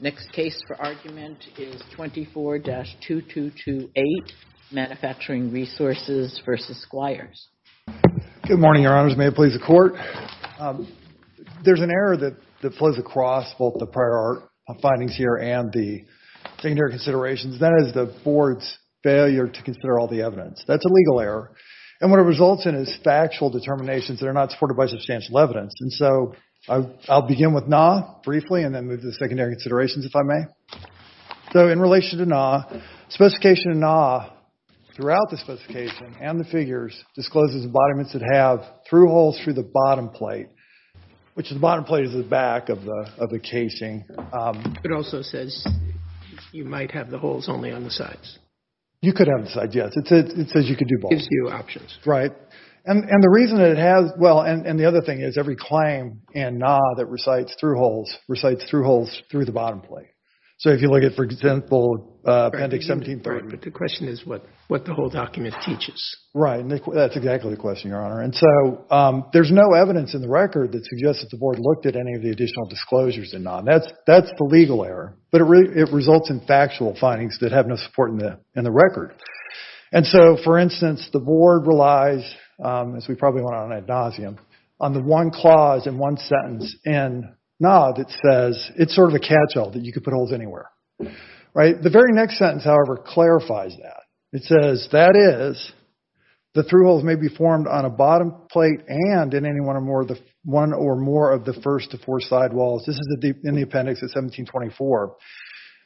Next case for argument is 24-2228, Manufacturing Resources v. Squires. Good morning, Your Honors. May it please the Court. There's an error that flows across both the prior findings here and the secondary considerations. That is the Board's failure to consider all the evidence. That's a legal error. And what it results in is factual determinations that are not supported by substantial evidence. And so I'll begin with NAH briefly and then move to the secondary considerations, if I may. So in relation to NAH, specification of NAH throughout the specification and the figures discloses embodiments that have through holes through the bottom plate, which the bottom plate is the back of the casing. It also says you might have the holes only on the sides. You could have the sides, yes. It says you could do both. It gives you options. And the other thing is every claim in NAH that recites through holes recites through holes through the bottom plate. So if you look at, for example, Appendix 17-3. But the question is what the whole document teaches. Right. That's exactly the question, Your Honor. And so there's no evidence in the record that suggests that the Board looked at any of the additional disclosures in NAH. That's the legal error. But it results in factual findings that have no support in the record. And so, for instance, the Board relies, as we probably went on ad nauseum, on the one clause and one sentence in NAH that says it's sort of a catch-all, that you could put holes anywhere. The very next sentence, however, clarifies that. It says, that is, the through holes may be formed on a bottom plate and in any one or more of the first to fourth side walls. This is in the appendix at 17-24.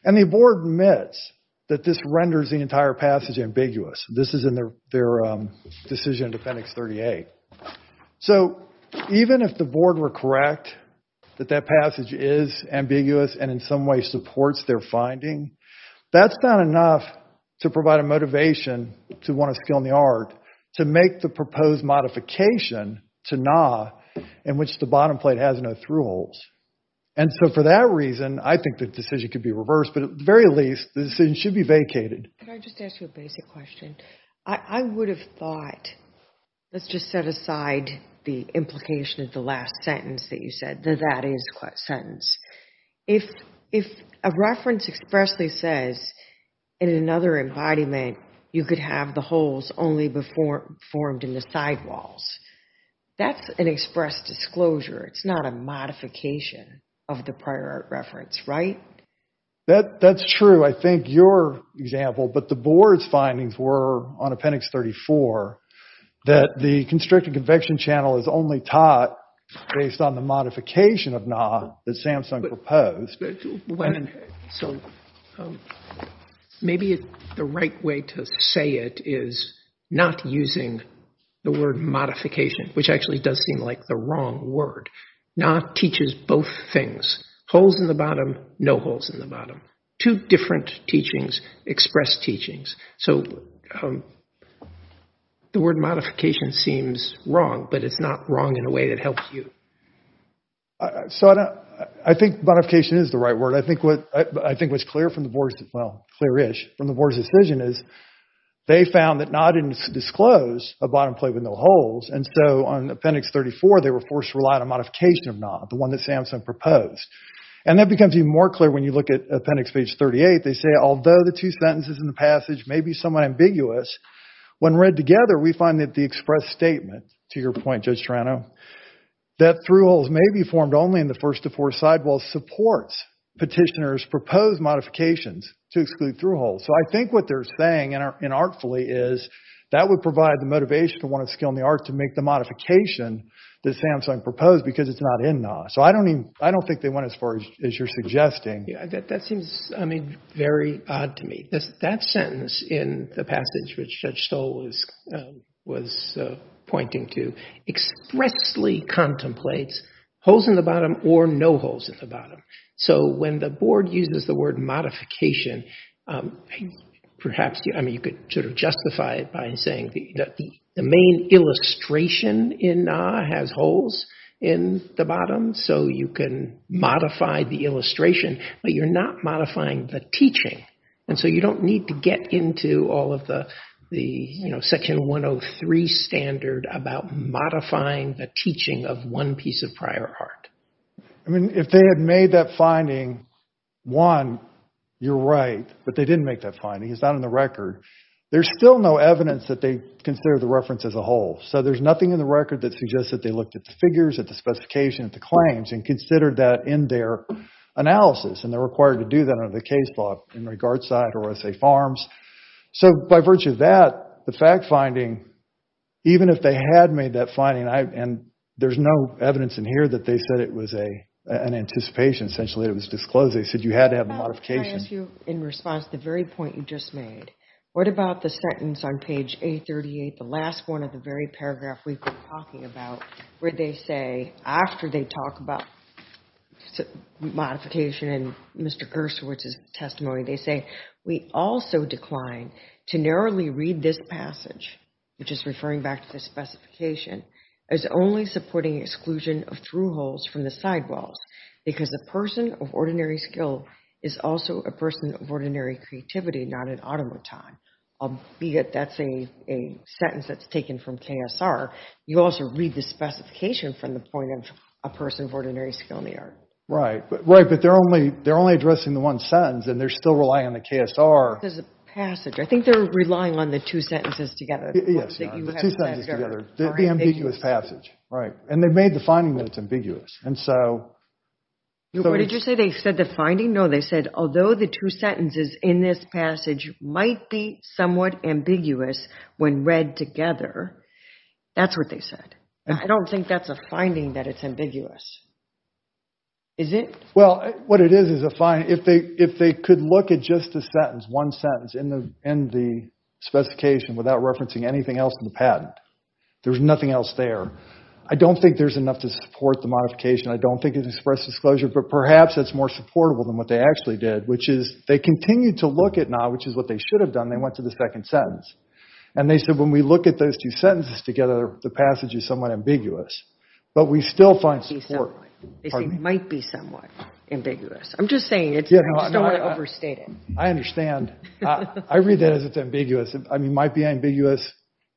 And the Board admits that this renders the entire passage ambiguous. This is in their decision to appendix 38. So even if the Board were correct that that passage is ambiguous and in some way supports their finding, that's not enough to provide a motivation to one of skill in the art to make the proposed modification to NAH in which the bottom plate has no through holes. And so for that reason, I think the decision could be reversed. But at the very least, the decision should be vacated. Can I just ask you a basic question? I would have thought, let's just set aside the implication of the last sentence that you said, the that is sentence. If a reference expressly says, in another embodiment, you could have the holes only formed in the side walls, that's an express disclosure. It's not a modification of the prior art reference, right? That's true. I think your example, but the Board's findings were on appendix 34, that the constricted convection channel is only taught based on the modification of NAH that Samsung proposed. So maybe the right way to say it is not using the word modification, which actually does seem like the wrong word. NAH teaches both things, holes in the bottom, no holes in the bottom. Two different teachings express teachings. So the word modification seems wrong, but it's not wrong in a way that helps you. So I think modification is the right word. I think what's clear from the Board's decision is they found that NAH didn't disclose a bottom plate with no holes. And so on appendix 34, they were forced to rely on a modification of NAH, the one that Samsung proposed. And that becomes even more clear when you look at appendix page 38. They say, although the two sentences in the passage may be somewhat ambiguous, when read together, we find that the express statement, to your point, Judge Toronto, that through holes may be formed only in the first to fourth side walls supports petitioner's proposed modifications to exclude through holes. So I think what they're saying, and artfully, is that would provide the motivation for one of the skill in the art to make the modification that Samsung proposed because it's not in NAH. So I don't think they went as far as you're suggesting. That seems, I mean, very odd to me. That sentence in the passage, which Judge Stoll was pointing to, expressly contemplates holes in the bottom or no holes in the bottom. So when the board uses the word modification, perhaps you could sort of justify it by saying that the main illustration in NAH has holes in the bottom, so you can modify the illustration, but you're not modifying the teaching. And so you don't need to get into all of the section 103 standard about modifying the teaching of one piece of prior art. If they had made that finding, one, you're right, but they didn't make that finding. It's not in the record. There's still no evidence that they consider the reference as a hole. So there's nothing in the record that suggests that they looked at the figures, at the specification, at the claims, and considered that in their analysis. And they're required to do that under the case law in regards to RSA Farms. So by virtue of that, the fact finding, even if they had made that finding, and there's no evidence in here that they said it was an anticipation. Essentially, it was disclosed. They said you had to have a modification. Can I ask you in response to the very point you just made, what about the sentence on page 838, the last one of the very paragraph we've been talking about, where they say, after they talk about modification in Mr. Gershwitz's testimony, they say, we also decline to narrowly read this passage, which is referring back to the specification, as only supporting exclusion of through holes from the sidewalls, because a person of ordinary skill is also a person of ordinary creativity, not an automaton, albeit that's a sentence that's taken from KSR. You also read the specification from the point of a person of ordinary skill in the art. Right, but they're only addressing the one sentence, and they're still relying on the KSR. There's a passage. I think they're relying on the two sentences together. Yes, the two sentences together. The ambiguous passage, right. And they made the finding that it's ambiguous. What did you say? They said the finding? No, they said, although the two sentences in this passage might be somewhat ambiguous when read together, that's what they said. I don't think that's a finding that it's ambiguous. Is it? Well, what it is is a finding. If they could look at just the sentence, one sentence, in the specification without referencing anything else in the patent, there's nothing else there. I don't think there's enough to support the modification. I don't think it's express disclosure, but perhaps it's more supportable than what they actually did, which is they continued to look at NAH, which is what they should have done. They went to the second sentence, and they said when we look at those two sentences together, the passage is somewhat ambiguous, but we still find support. They say it might be somewhat ambiguous. I'm just saying it. I just don't want to overstate it. I understand. I read that as it's ambiguous. It might be ambiguous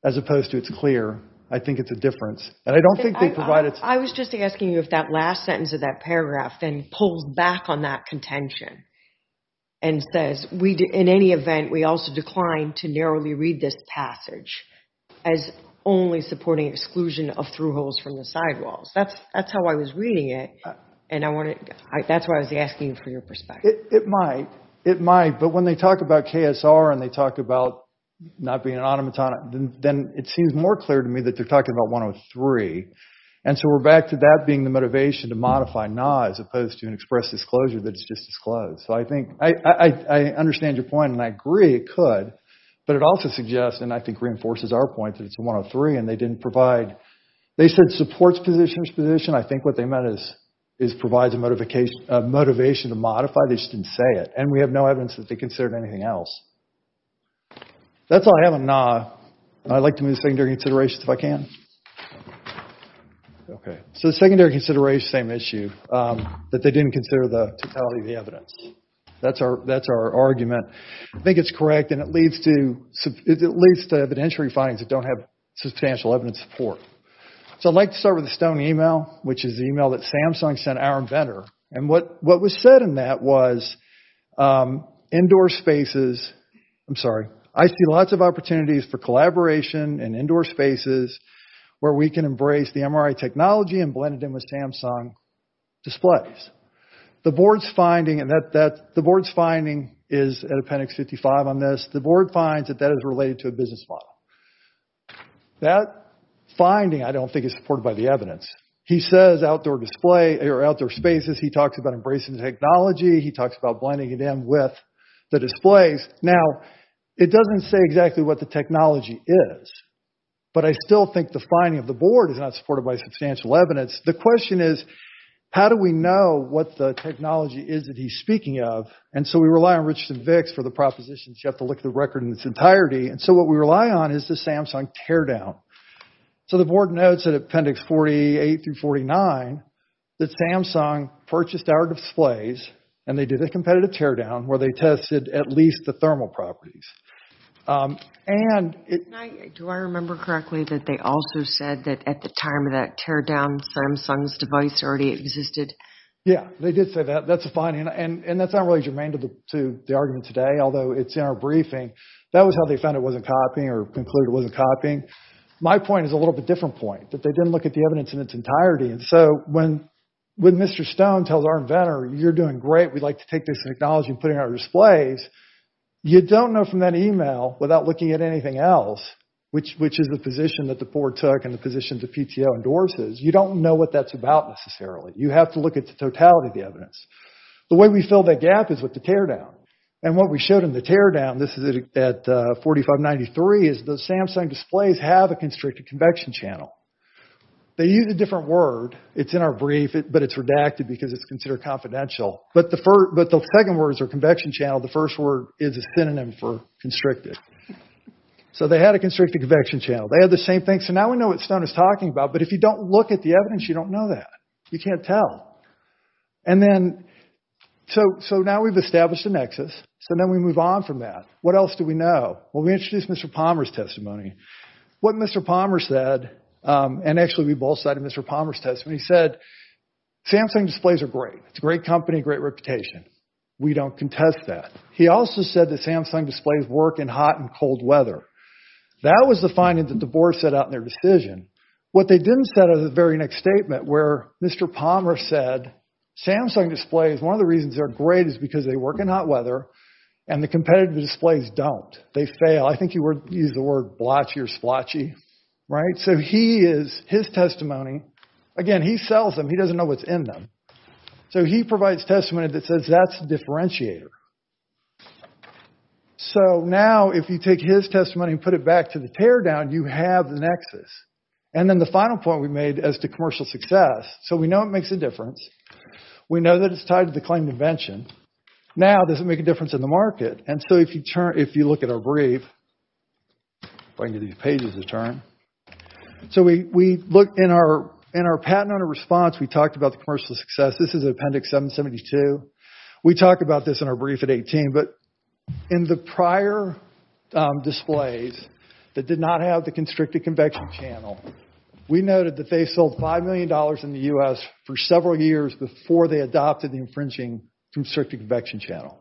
as opposed to it's clear. I think it's a difference. I was just asking you if that last sentence of that paragraph then pulls back on that contention and says, in any event, we also decline to narrowly read this passage as only supporting exclusion of through holes from the sidewalls. That's how I was reading it, and that's why I was asking for your perspective. It might. It might, but when they talk about KSR and they talk about not being an automaton, then it seems more clear to me that they're talking about 103, and so we're back to that being the motivation to modify NAH as opposed to an express disclosure that it's just disclosed. I understand your point, and I agree it could, but it also suggests, and I think reinforces our point, that it's a 103, and they didn't provide, they said supports position to position. I think what they meant is provides a motivation to modify. They just didn't say it, and we have no evidence that they considered anything else. That's all I have on NAH. I'd like to move to secondary considerations if I can. Okay, so the secondary consideration, same issue, that they didn't consider the totality of the evidence. That's our argument. I think it's correct, and it leads to evidentiary findings that don't have substantial evidence support. So I'd like to start with a stony email, which is the email that Samsung sent our inventor, and what was said in that was indoor spaces, I'm sorry, I see lots of opportunities for collaboration in indoor spaces where we can embrace the MRI technology and blend it in with Samsung displays. The board's finding, and the board's finding is at appendix 55 on this, the board finds that that is related to a business model. That finding, I don't think, is supported by the evidence. He says outdoor display, or outdoor spaces, he talks about embracing technology, he talks about blending it in with the displays. Now, it doesn't say exactly what the technology is, but I still think the finding of the board is not supported by substantial evidence. The question is, how do we know what the technology is that he's speaking of? And so we rely on Richardson-Vicks for the proposition that you have to look at the record in its entirety, and so what we rely on is the Samsung teardown. So the board notes at appendix 48 through 49 that Samsung purchased our displays, and they did a competitive teardown where they tested at least the thermal properties. Do I remember correctly that they also said that at the time of that teardown, Samsung's device already existed? Yeah, they did say that. That's a finding, and that's not really germane to the argument today, although it's in our briefing. That was how they found it wasn't copying or concluded it wasn't copying. My point is a little bit different point, that they didn't look at the evidence in its entirety, and so when Mr. Stone tells our inventor, you're doing great, we'd like to take this technology and put it in our displays, you don't know from that email, without looking at anything else, which is the position that the board took and the position that PTO endorses, you don't know what that's about necessarily. You have to look at the totality of the evidence. The way we fill that gap is with the teardown, and what we showed in the teardown, this is at 4593, is the Samsung displays have a constricted convection channel. They use a different word, it's in our brief, but it's redacted because it's considered confidential, but the second word is a convection channel, the first word is a synonym for constricted. So they had a constricted convection channel. They had the same thing, so now we know what Stone is talking about, but if you don't look at the evidence, you don't know that, you can't tell. And then, so now we've established a nexus, so now we move on from that. What else do we know? Well, we introduced Mr. Palmer's testimony. What Mr. Palmer said, and actually we both cited Mr. Palmer's testimony, he said, Samsung displays are great. It's a great company, great reputation. We don't contest that. He also said that Samsung displays work in hot and cold weather. That was the finding that the board set out in their decision. What they didn't set out in the very next statement, where Mr. Palmer said, Samsung displays, one of the reasons they're great is because they work in hot weather and the competitive displays don't. They fail. I think he used the word blotchy or splotchy, right? So he is, his testimony, again, he sells them. He doesn't know what's in them. So he provides testimony that says, that's the differentiator. So now, if you take his testimony and put it back to the teardown, you have the nexus. And then the final point we made as to commercial success, so we know it makes a difference. We know that it's tied to the claimed invention. Now, does it make a difference in the market? And so if you turn, if you look at our brief, if I can get these pages to turn, so we look in our patent owner response, we talked about the commercial success. This is Appendix 772. We talk about this in our brief at 18, but in the prior displays that did not have the constricted convection channel, we noted that they sold $5 million in the US for several years before they adopted the infringing constricted convection channel.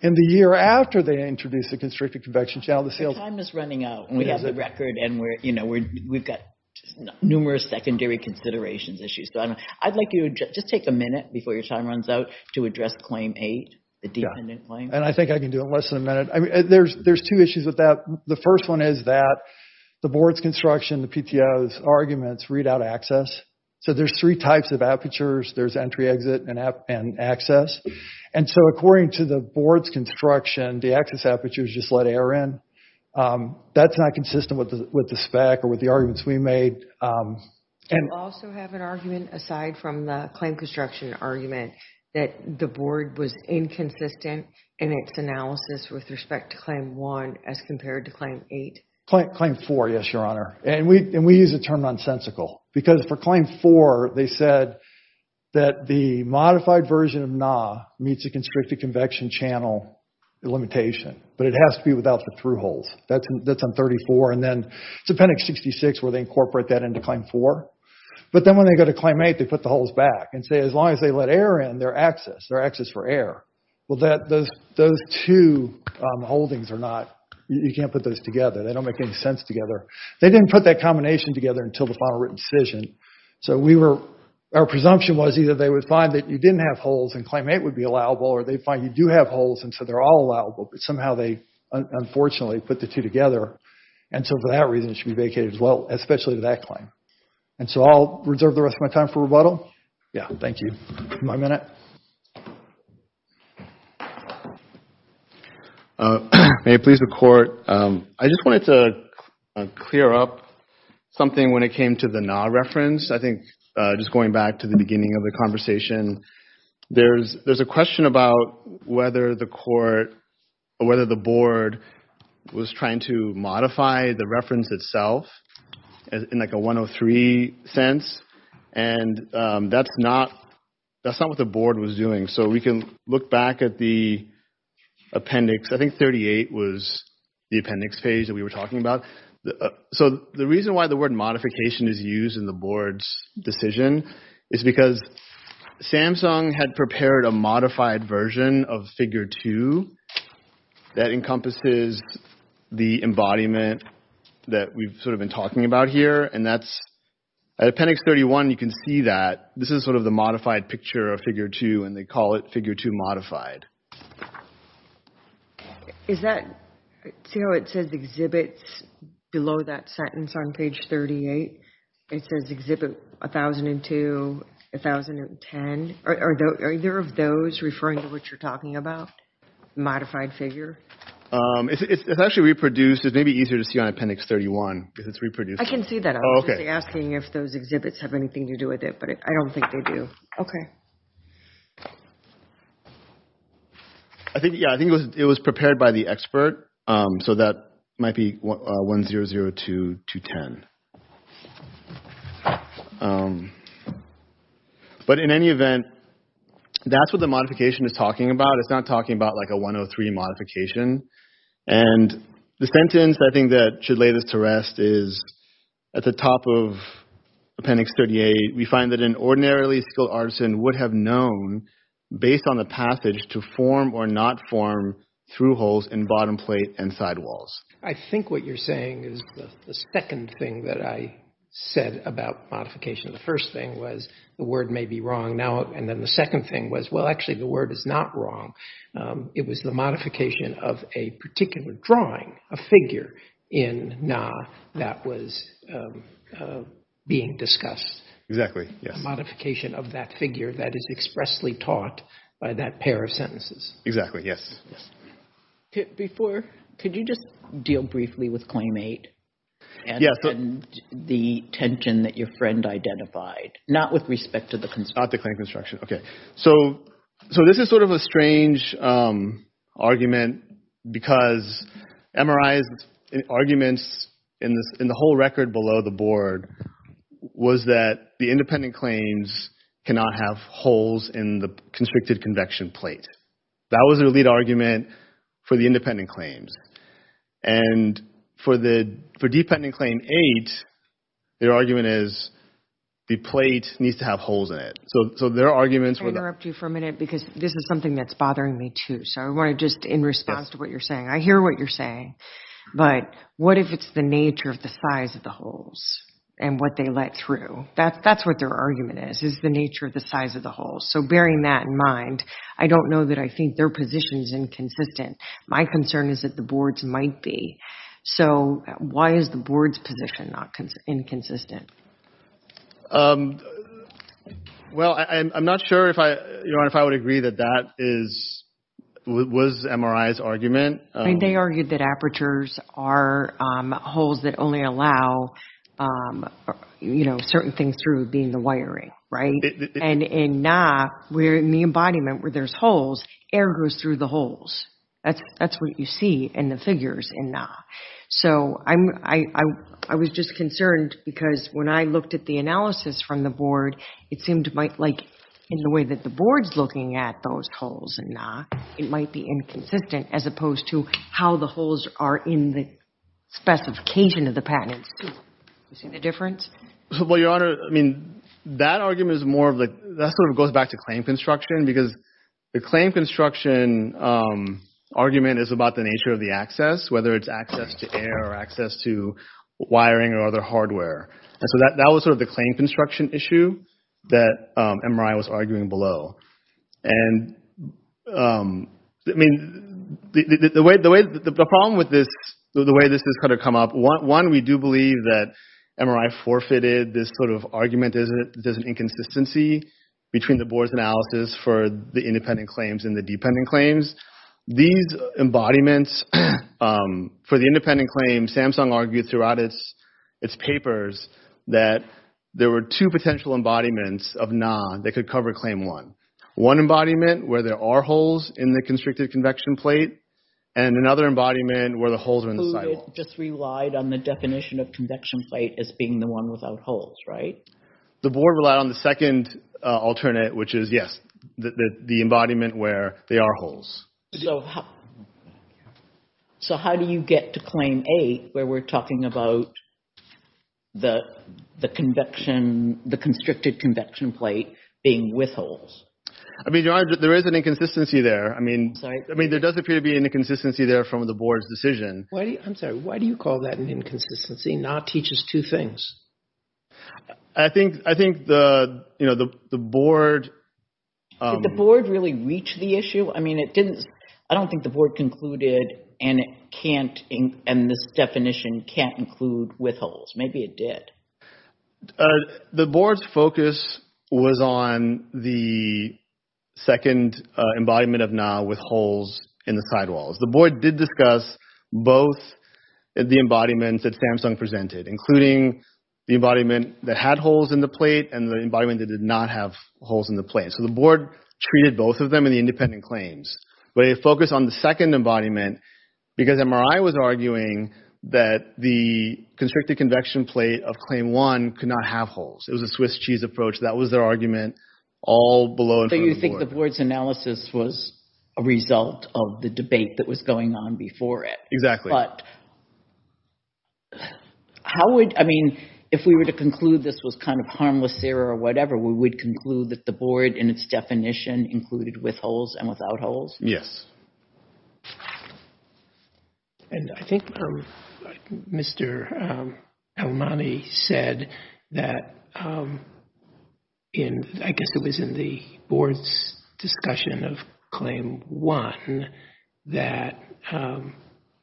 In the year after they introduced the constricted convection channel, the sales... The time is running out, and we have the record, and we've got numerous secondary considerations issues. I'd like you to just take a minute before your time runs out to address Claim 8, the dependent claim. And I think I can do it in less than a minute. There's two issues with that. The first one is that the board's construction, the PTO's arguments read out access. So there's three types of apertures. There's entry, exit, and access. And so according to the board's construction, the access aperture is just let air in. That's not consistent with the spec or with the arguments we made. And also have an argument aside from the claim construction argument that the board was inconsistent in its analysis with respect to Claim 1 as compared to Claim 8. Claim 4, yes, Your Honor. And we use the term nonsensical because for Claim 4, they said that the modified version of NAW meets the constricted convection channel limitation. But it has to be without the through holes. That's on 34. And then it's appendix 66 where they incorporate that into Claim 4. But then when they go to Claim 8, they put the holes back and say as long as they let air in, they're access, they're access for air. Well, those two holdings are not, you can't put those together. They don't make any sense together. They didn't put that combination together until the final written decision. So we were, our presumption was either they would find that you didn't have holes and Claim 8 would be allowable or they'd find you do have holes and so they're all allowable. But somehow they, unfortunately, put the two together. And so for that reason, it should be vacated as well, especially to that claim. And so I'll reserve the rest of my time for rebuttal. Yeah, thank you. My minute. May it please the Court. I just wanted to clear up something when it came to the NAW reference. I think just going back to the beginning of the conversation, there's a question about whether the Court, or whether the Board, was trying to modify the reference itself in like a 103 sense. And that's not, that's not what the Board was doing. So we can look back at the appendix. I think 38 was the appendix page that we were talking about. So the reason why the word modification is used in the Board's decision is because Samsung had prepared a modified version of figure two that encompasses the embodiment that we've sort of been talking about here. And that's, at appendix 31, you can see that this is sort of the modified picture of figure two and they call it figure two modified. Is that, see how it says exhibits below that sentence on page 38? It says exhibit 1002, 1010. Are either of those referring to what you're talking about? Modified figure? It's actually reproduced. It may be easier to see on appendix 31 because it's reproduced. I can see that. I was just asking if those exhibits have anything to do with it, but I don't think they do. Okay. I think, yeah, I think it was prepared by the expert. So that might be 1002, 210. But in any event, that's what the modification is talking about. It's not talking about like a 103 modification. And the sentence, I think, that should lay this to rest is at the top of appendix 38, we find that an ordinarily skilled artisan would have known, based on the passage, to form or not form through holes in bottom plate and side walls. I think what you're saying is the second thing that I said about modification. The first thing was the word may be wrong now. And then the second thing was, well, actually, the word is not wrong. It was the modification of a particular drawing, a figure, in Na that was being discussed. Exactly, yes. A modification of that figure that is expressly taught by that pair of sentences. Exactly, yes. Could you just deal briefly with claim eight and the tension that your friend identified? Not with respect to the construction. Not the claim construction. Okay. So this is sort of a strange argument because MRI's arguments in the whole record below the board was that the independent claims cannot have holes in the constricted convection plate. That was their lead argument for the independent claims. And for dependent claim eight, their argument is the plate needs to have holes in it. So their arguments were that... Can I interrupt you for a minute because this is something that's bothering me too. So I want to just, in response to what you're saying, I hear what you're saying, but what if it's the nature of the size of the holes and what they let through? That's what their argument is, is the nature of the size of the holes. So bearing that in mind, I don't know that I think their position is inconsistent. My concern is that the board's might be. So why is the board's position inconsistent? Well, I'm not sure if I would agree that that was MRI's argument. They argued that apertures are holes that only allow certain things through, being the wiring, right? And in NAAH, where in the embodiment where there's holes, air goes through the holes. That's what you see in the figures in NAAH. So I was just concerned because when I looked at the analysis from the board, it seemed like in the way that the board's looking at those holes in NAAH, it might be inconsistent as opposed to how the holes are in the specification of the patents too. You see the difference? Well, Your Honor, that argument is more of, that sort of goes back to claim construction because the claim construction argument is about the nature of the access, whether it's access to air or access to wiring or other hardware. And so that was sort of the claim construction issue that MRI was arguing below. The problem with this, the way this has kind of come up, one, we do believe that MRI forfeited this sort of argument that there's an inconsistency between the board's analysis for the independent claims and the dependent claims. These embodiments for the independent claims, Samsung argued throughout its papers that there were two potential embodiments of NAAH that could cover Claim 1. One embodiment where there are holes in the constricted convection plate and another embodiment where the holes are in the cycle. Who just relied on the definition of convection plate as being the one without holes, right? The board relied on the second alternate, which is, yes, the embodiment where there are holes. So how do you get to Claim 8 where we're talking about the constricted convection plate being with holes? I mean, there is an inconsistency there. I mean, there does appear to be an inconsistency there from the board's decision. I'm sorry. Why do you call that an inconsistency? NAAH teaches two things. I think the board... Did the board really reach the issue? I mean, I don't think the board concluded and this definition can't include with holes. Maybe it did. The board's focus was on the second embodiment of NAAH with holes in the sidewalls. The board did discuss both the embodiments that Samsung presented, including the embodiment that had holes in the plate and the embodiment that did not have holes in the plate. So the board treated both of them in the independent claims. But they focused on the second embodiment because MRI was arguing that the constricted convection plate of Claim 1 could not have holes. It was a Swiss cheese approach. That was their argument all below and in front of the board. So you think the board's analysis was a result of the debate that was going on before it. Exactly. How would, I mean, if we were to conclude this was kind of harmless error or whatever, we would conclude that the board in its definition included with holes and without holes? Yes. And I think Mr. Almani said that I guess it was in the board's discussion of Claim 1 that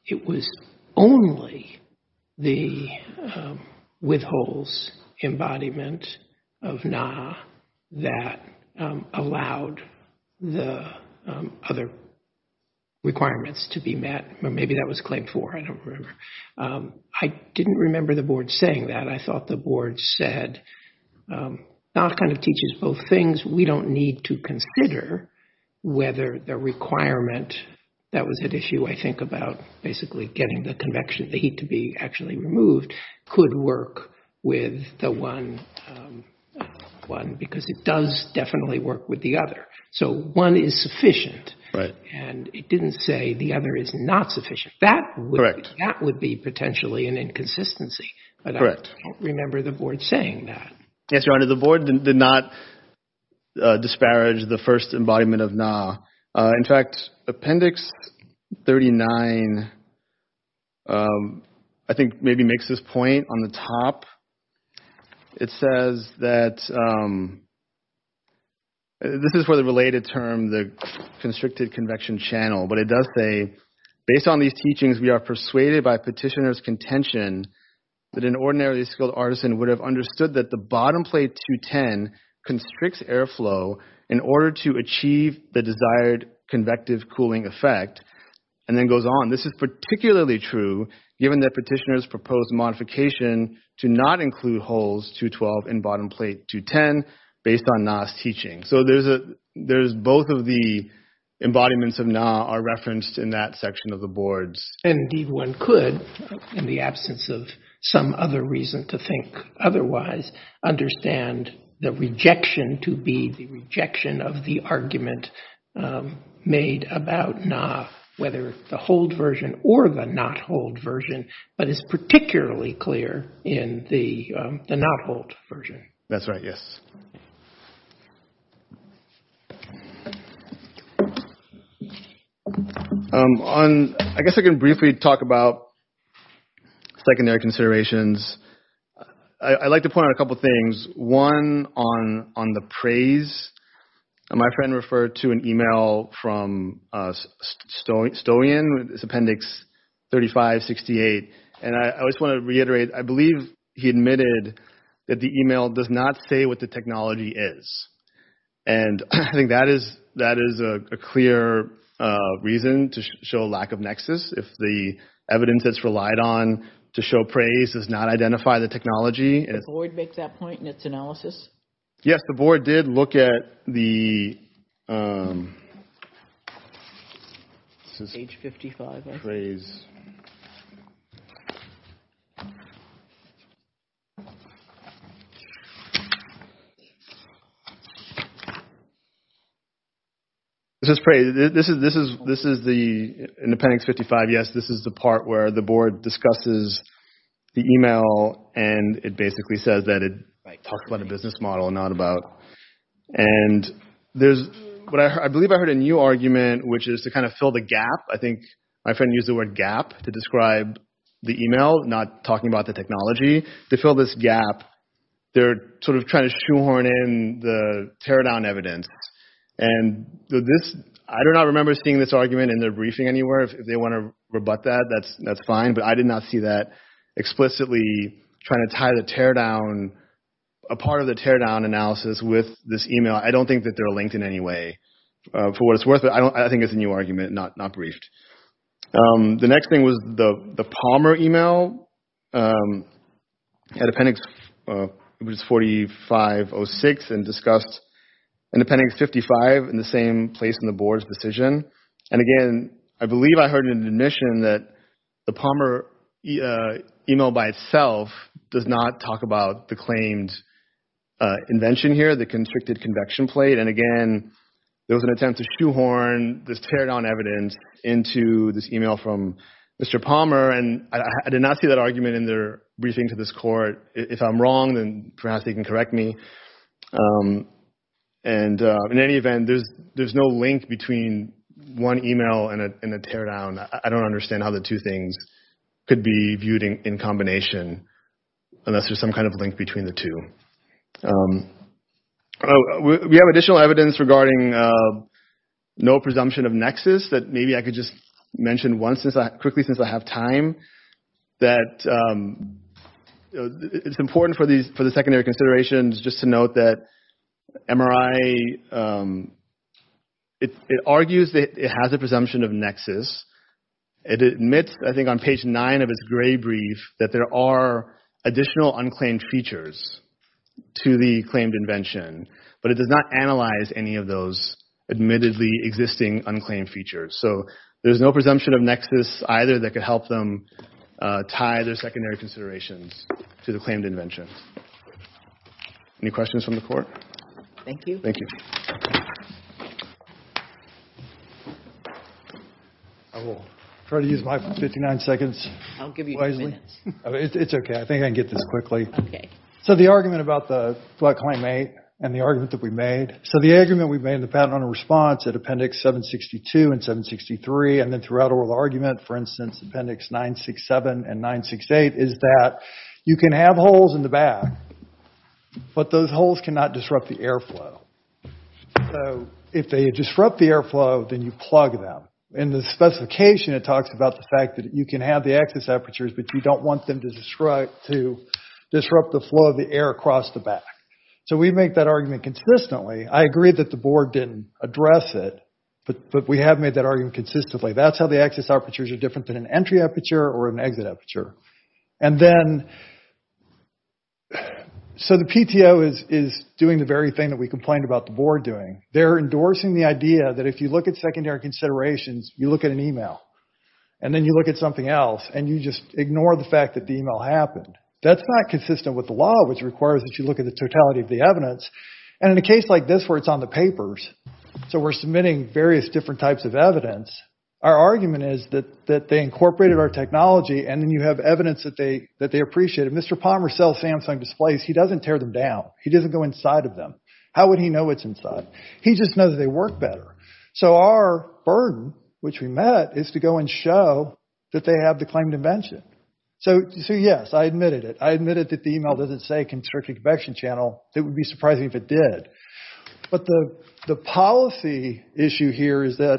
it was only the with holes embodiment of NA that allowed the other requirements to be met. Or maybe that was Claim 4. I don't remember. I didn't remember the board saying that. I thought the board said NA kind of teaches both things. We don't need to consider whether the requirement that was at issue, I think, about basically getting the convection, the heat to be actually removed, could work with the one because it does definitely work with the other. So one is sufficient. Right. And it didn't say the other is not sufficient. Correct. That would be potentially an inconsistency. Correct. But I don't remember the board saying that. Yes, Your Honor, the board did not disparage the first embodiment of NA. In fact, Appendix 39, I think maybe makes this point. On the top, it says that this is for the related term, the constricted convection channel. But it does say, based on these teachings, we are persuaded by petitioner's contention that an ordinarily skilled artisan would have understood that the bottom plate 210 constricts airflow in order to achieve the desired convective cooling effect, and then goes on. This is particularly true given that petitioner's proposed modification to not include holes 212 in bottom plate 210 based on NA's teaching. So there's both of the embodiments of NA are referenced in that section of the boards. And indeed one could, in the absence of some other reason to think otherwise, understand the rejection of the argument made about NA, whether the hold version or the not hold version, but it's particularly clear in the not hold version. That's right, yes. I guess I can briefly talk about secondary considerations. I'd like to point out a couple things. One, on the praise. My friend referred to an email from Stowian, it's appendix 3568, and I just want to reiterate, I believe he admitted that the email does not say what the technology is. And I think that is a clear reason to show lack of nexus if the evidence that's relied on to show praise does not identify the technology. Did the board make that point in its analysis? Yes, the board did look at the... This is praise. This is the appendix 55, yes, this is the part where the board discusses the email and it basically says that it talks about a business model and not about... I believe I heard a new argument which is to kind of fill the gap. I think my friend used the word gap to describe the email, not talking about the technology. To fill this gap, they're sort of trying to shoehorn in the tear down evidence. And I do not remember seeing this argument in their briefing anywhere. If they want to rebut that, that's fine, but I did not see that explicitly trying to tie the tear down, a part of the tear down analysis with this email. I don't think that they're linked in any way. For what it's worth, I think it's a new argument, not briefed. The next thing was the Palmer email. Had appendix... It was 4506 and discussed an appendix 55 in the same place in the board's decision. And again, I believe I heard an admission that the Palmer email by itself does not talk about the claimed invention here, the constricted convection plate. And again, there was an attempt to shoehorn this tear down evidence into this email from Mr. Palmer. And I did not see that argument in their briefing to this court. If I'm wrong, then perhaps they can correct me. In any event, there's no link between one email and a tear down. I don't understand how the two things could be viewed in combination unless there's some kind of link between the two. We have additional evidence regarding no presumption of nexus that maybe I could just mention once, quickly, since I have time. It's important for the secondary considerations just to note that MRI... It argues that it has a presumption of nexus. It admits, I think, on page nine of its gray brief that there are additional unclaimed features to the claimed invention, but it does not analyze any of those admittedly existing unclaimed features. So there's no presumption of nexus either that could help them tie their secondary considerations to the claimed invention. Any questions from the court? Thank you. Thank you. Try to use my 59 seconds wisely. I'll give you five minutes. It's okay. I think I can get this quickly. Okay. So the argument about the flood claim and the argument that we made. So the argument we made in the patent on a response at appendix 762 and 763 and then throughout oral argument, for instance, appendix 967 and 968 is that you can have holes in the back, but those holes cannot disrupt the airflow. So if they disrupt the airflow, then you plug them. In the specification, it talks about the fact that you can have the access apertures, but you don't want them to disrupt the flow of the air across the back. So we make that argument consistently. I agree that the board didn't address it, but we have made that argument consistently. That's how the access apertures are different than an entry aperture or an exit aperture. So the PTO is doing the very thing that we complained about the board doing. They're endorsing the idea that if you look at secondary considerations, you look at an email, and then you look at something else, and you just ignore the fact that the email happened. That's not consistent with the law, which requires that you look at the totality of the evidence, and in a case like this where it's on the papers, so we're submitting various different types of evidence, our argument is that they incorporated our technology and then you have evidence that they appreciated. Mr. Palmer sells Samsung displays. He doesn't tear them down. He doesn't go inside of them. How would he know what's inside? He just knows they work better. So our burden, which we met, is to go and show that they have the claim to mention. So yes, I admitted it. I admitted that the email doesn't say constricted convection channel. It would be surprising if it did. But the policy issue here is that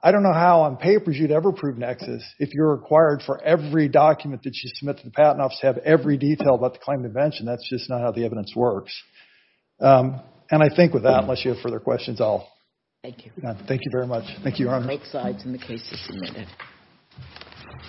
I don't know how on papers you'd ever prove nexus if you're required for every document that you submit to the patent office to have every detail about the claim to mention. That's just not how the evidence works. And I think with that, unless you have further questions, I'll... Thank you. Thank you very much. Thank you, Your Honor. Both sides in the case are submitted.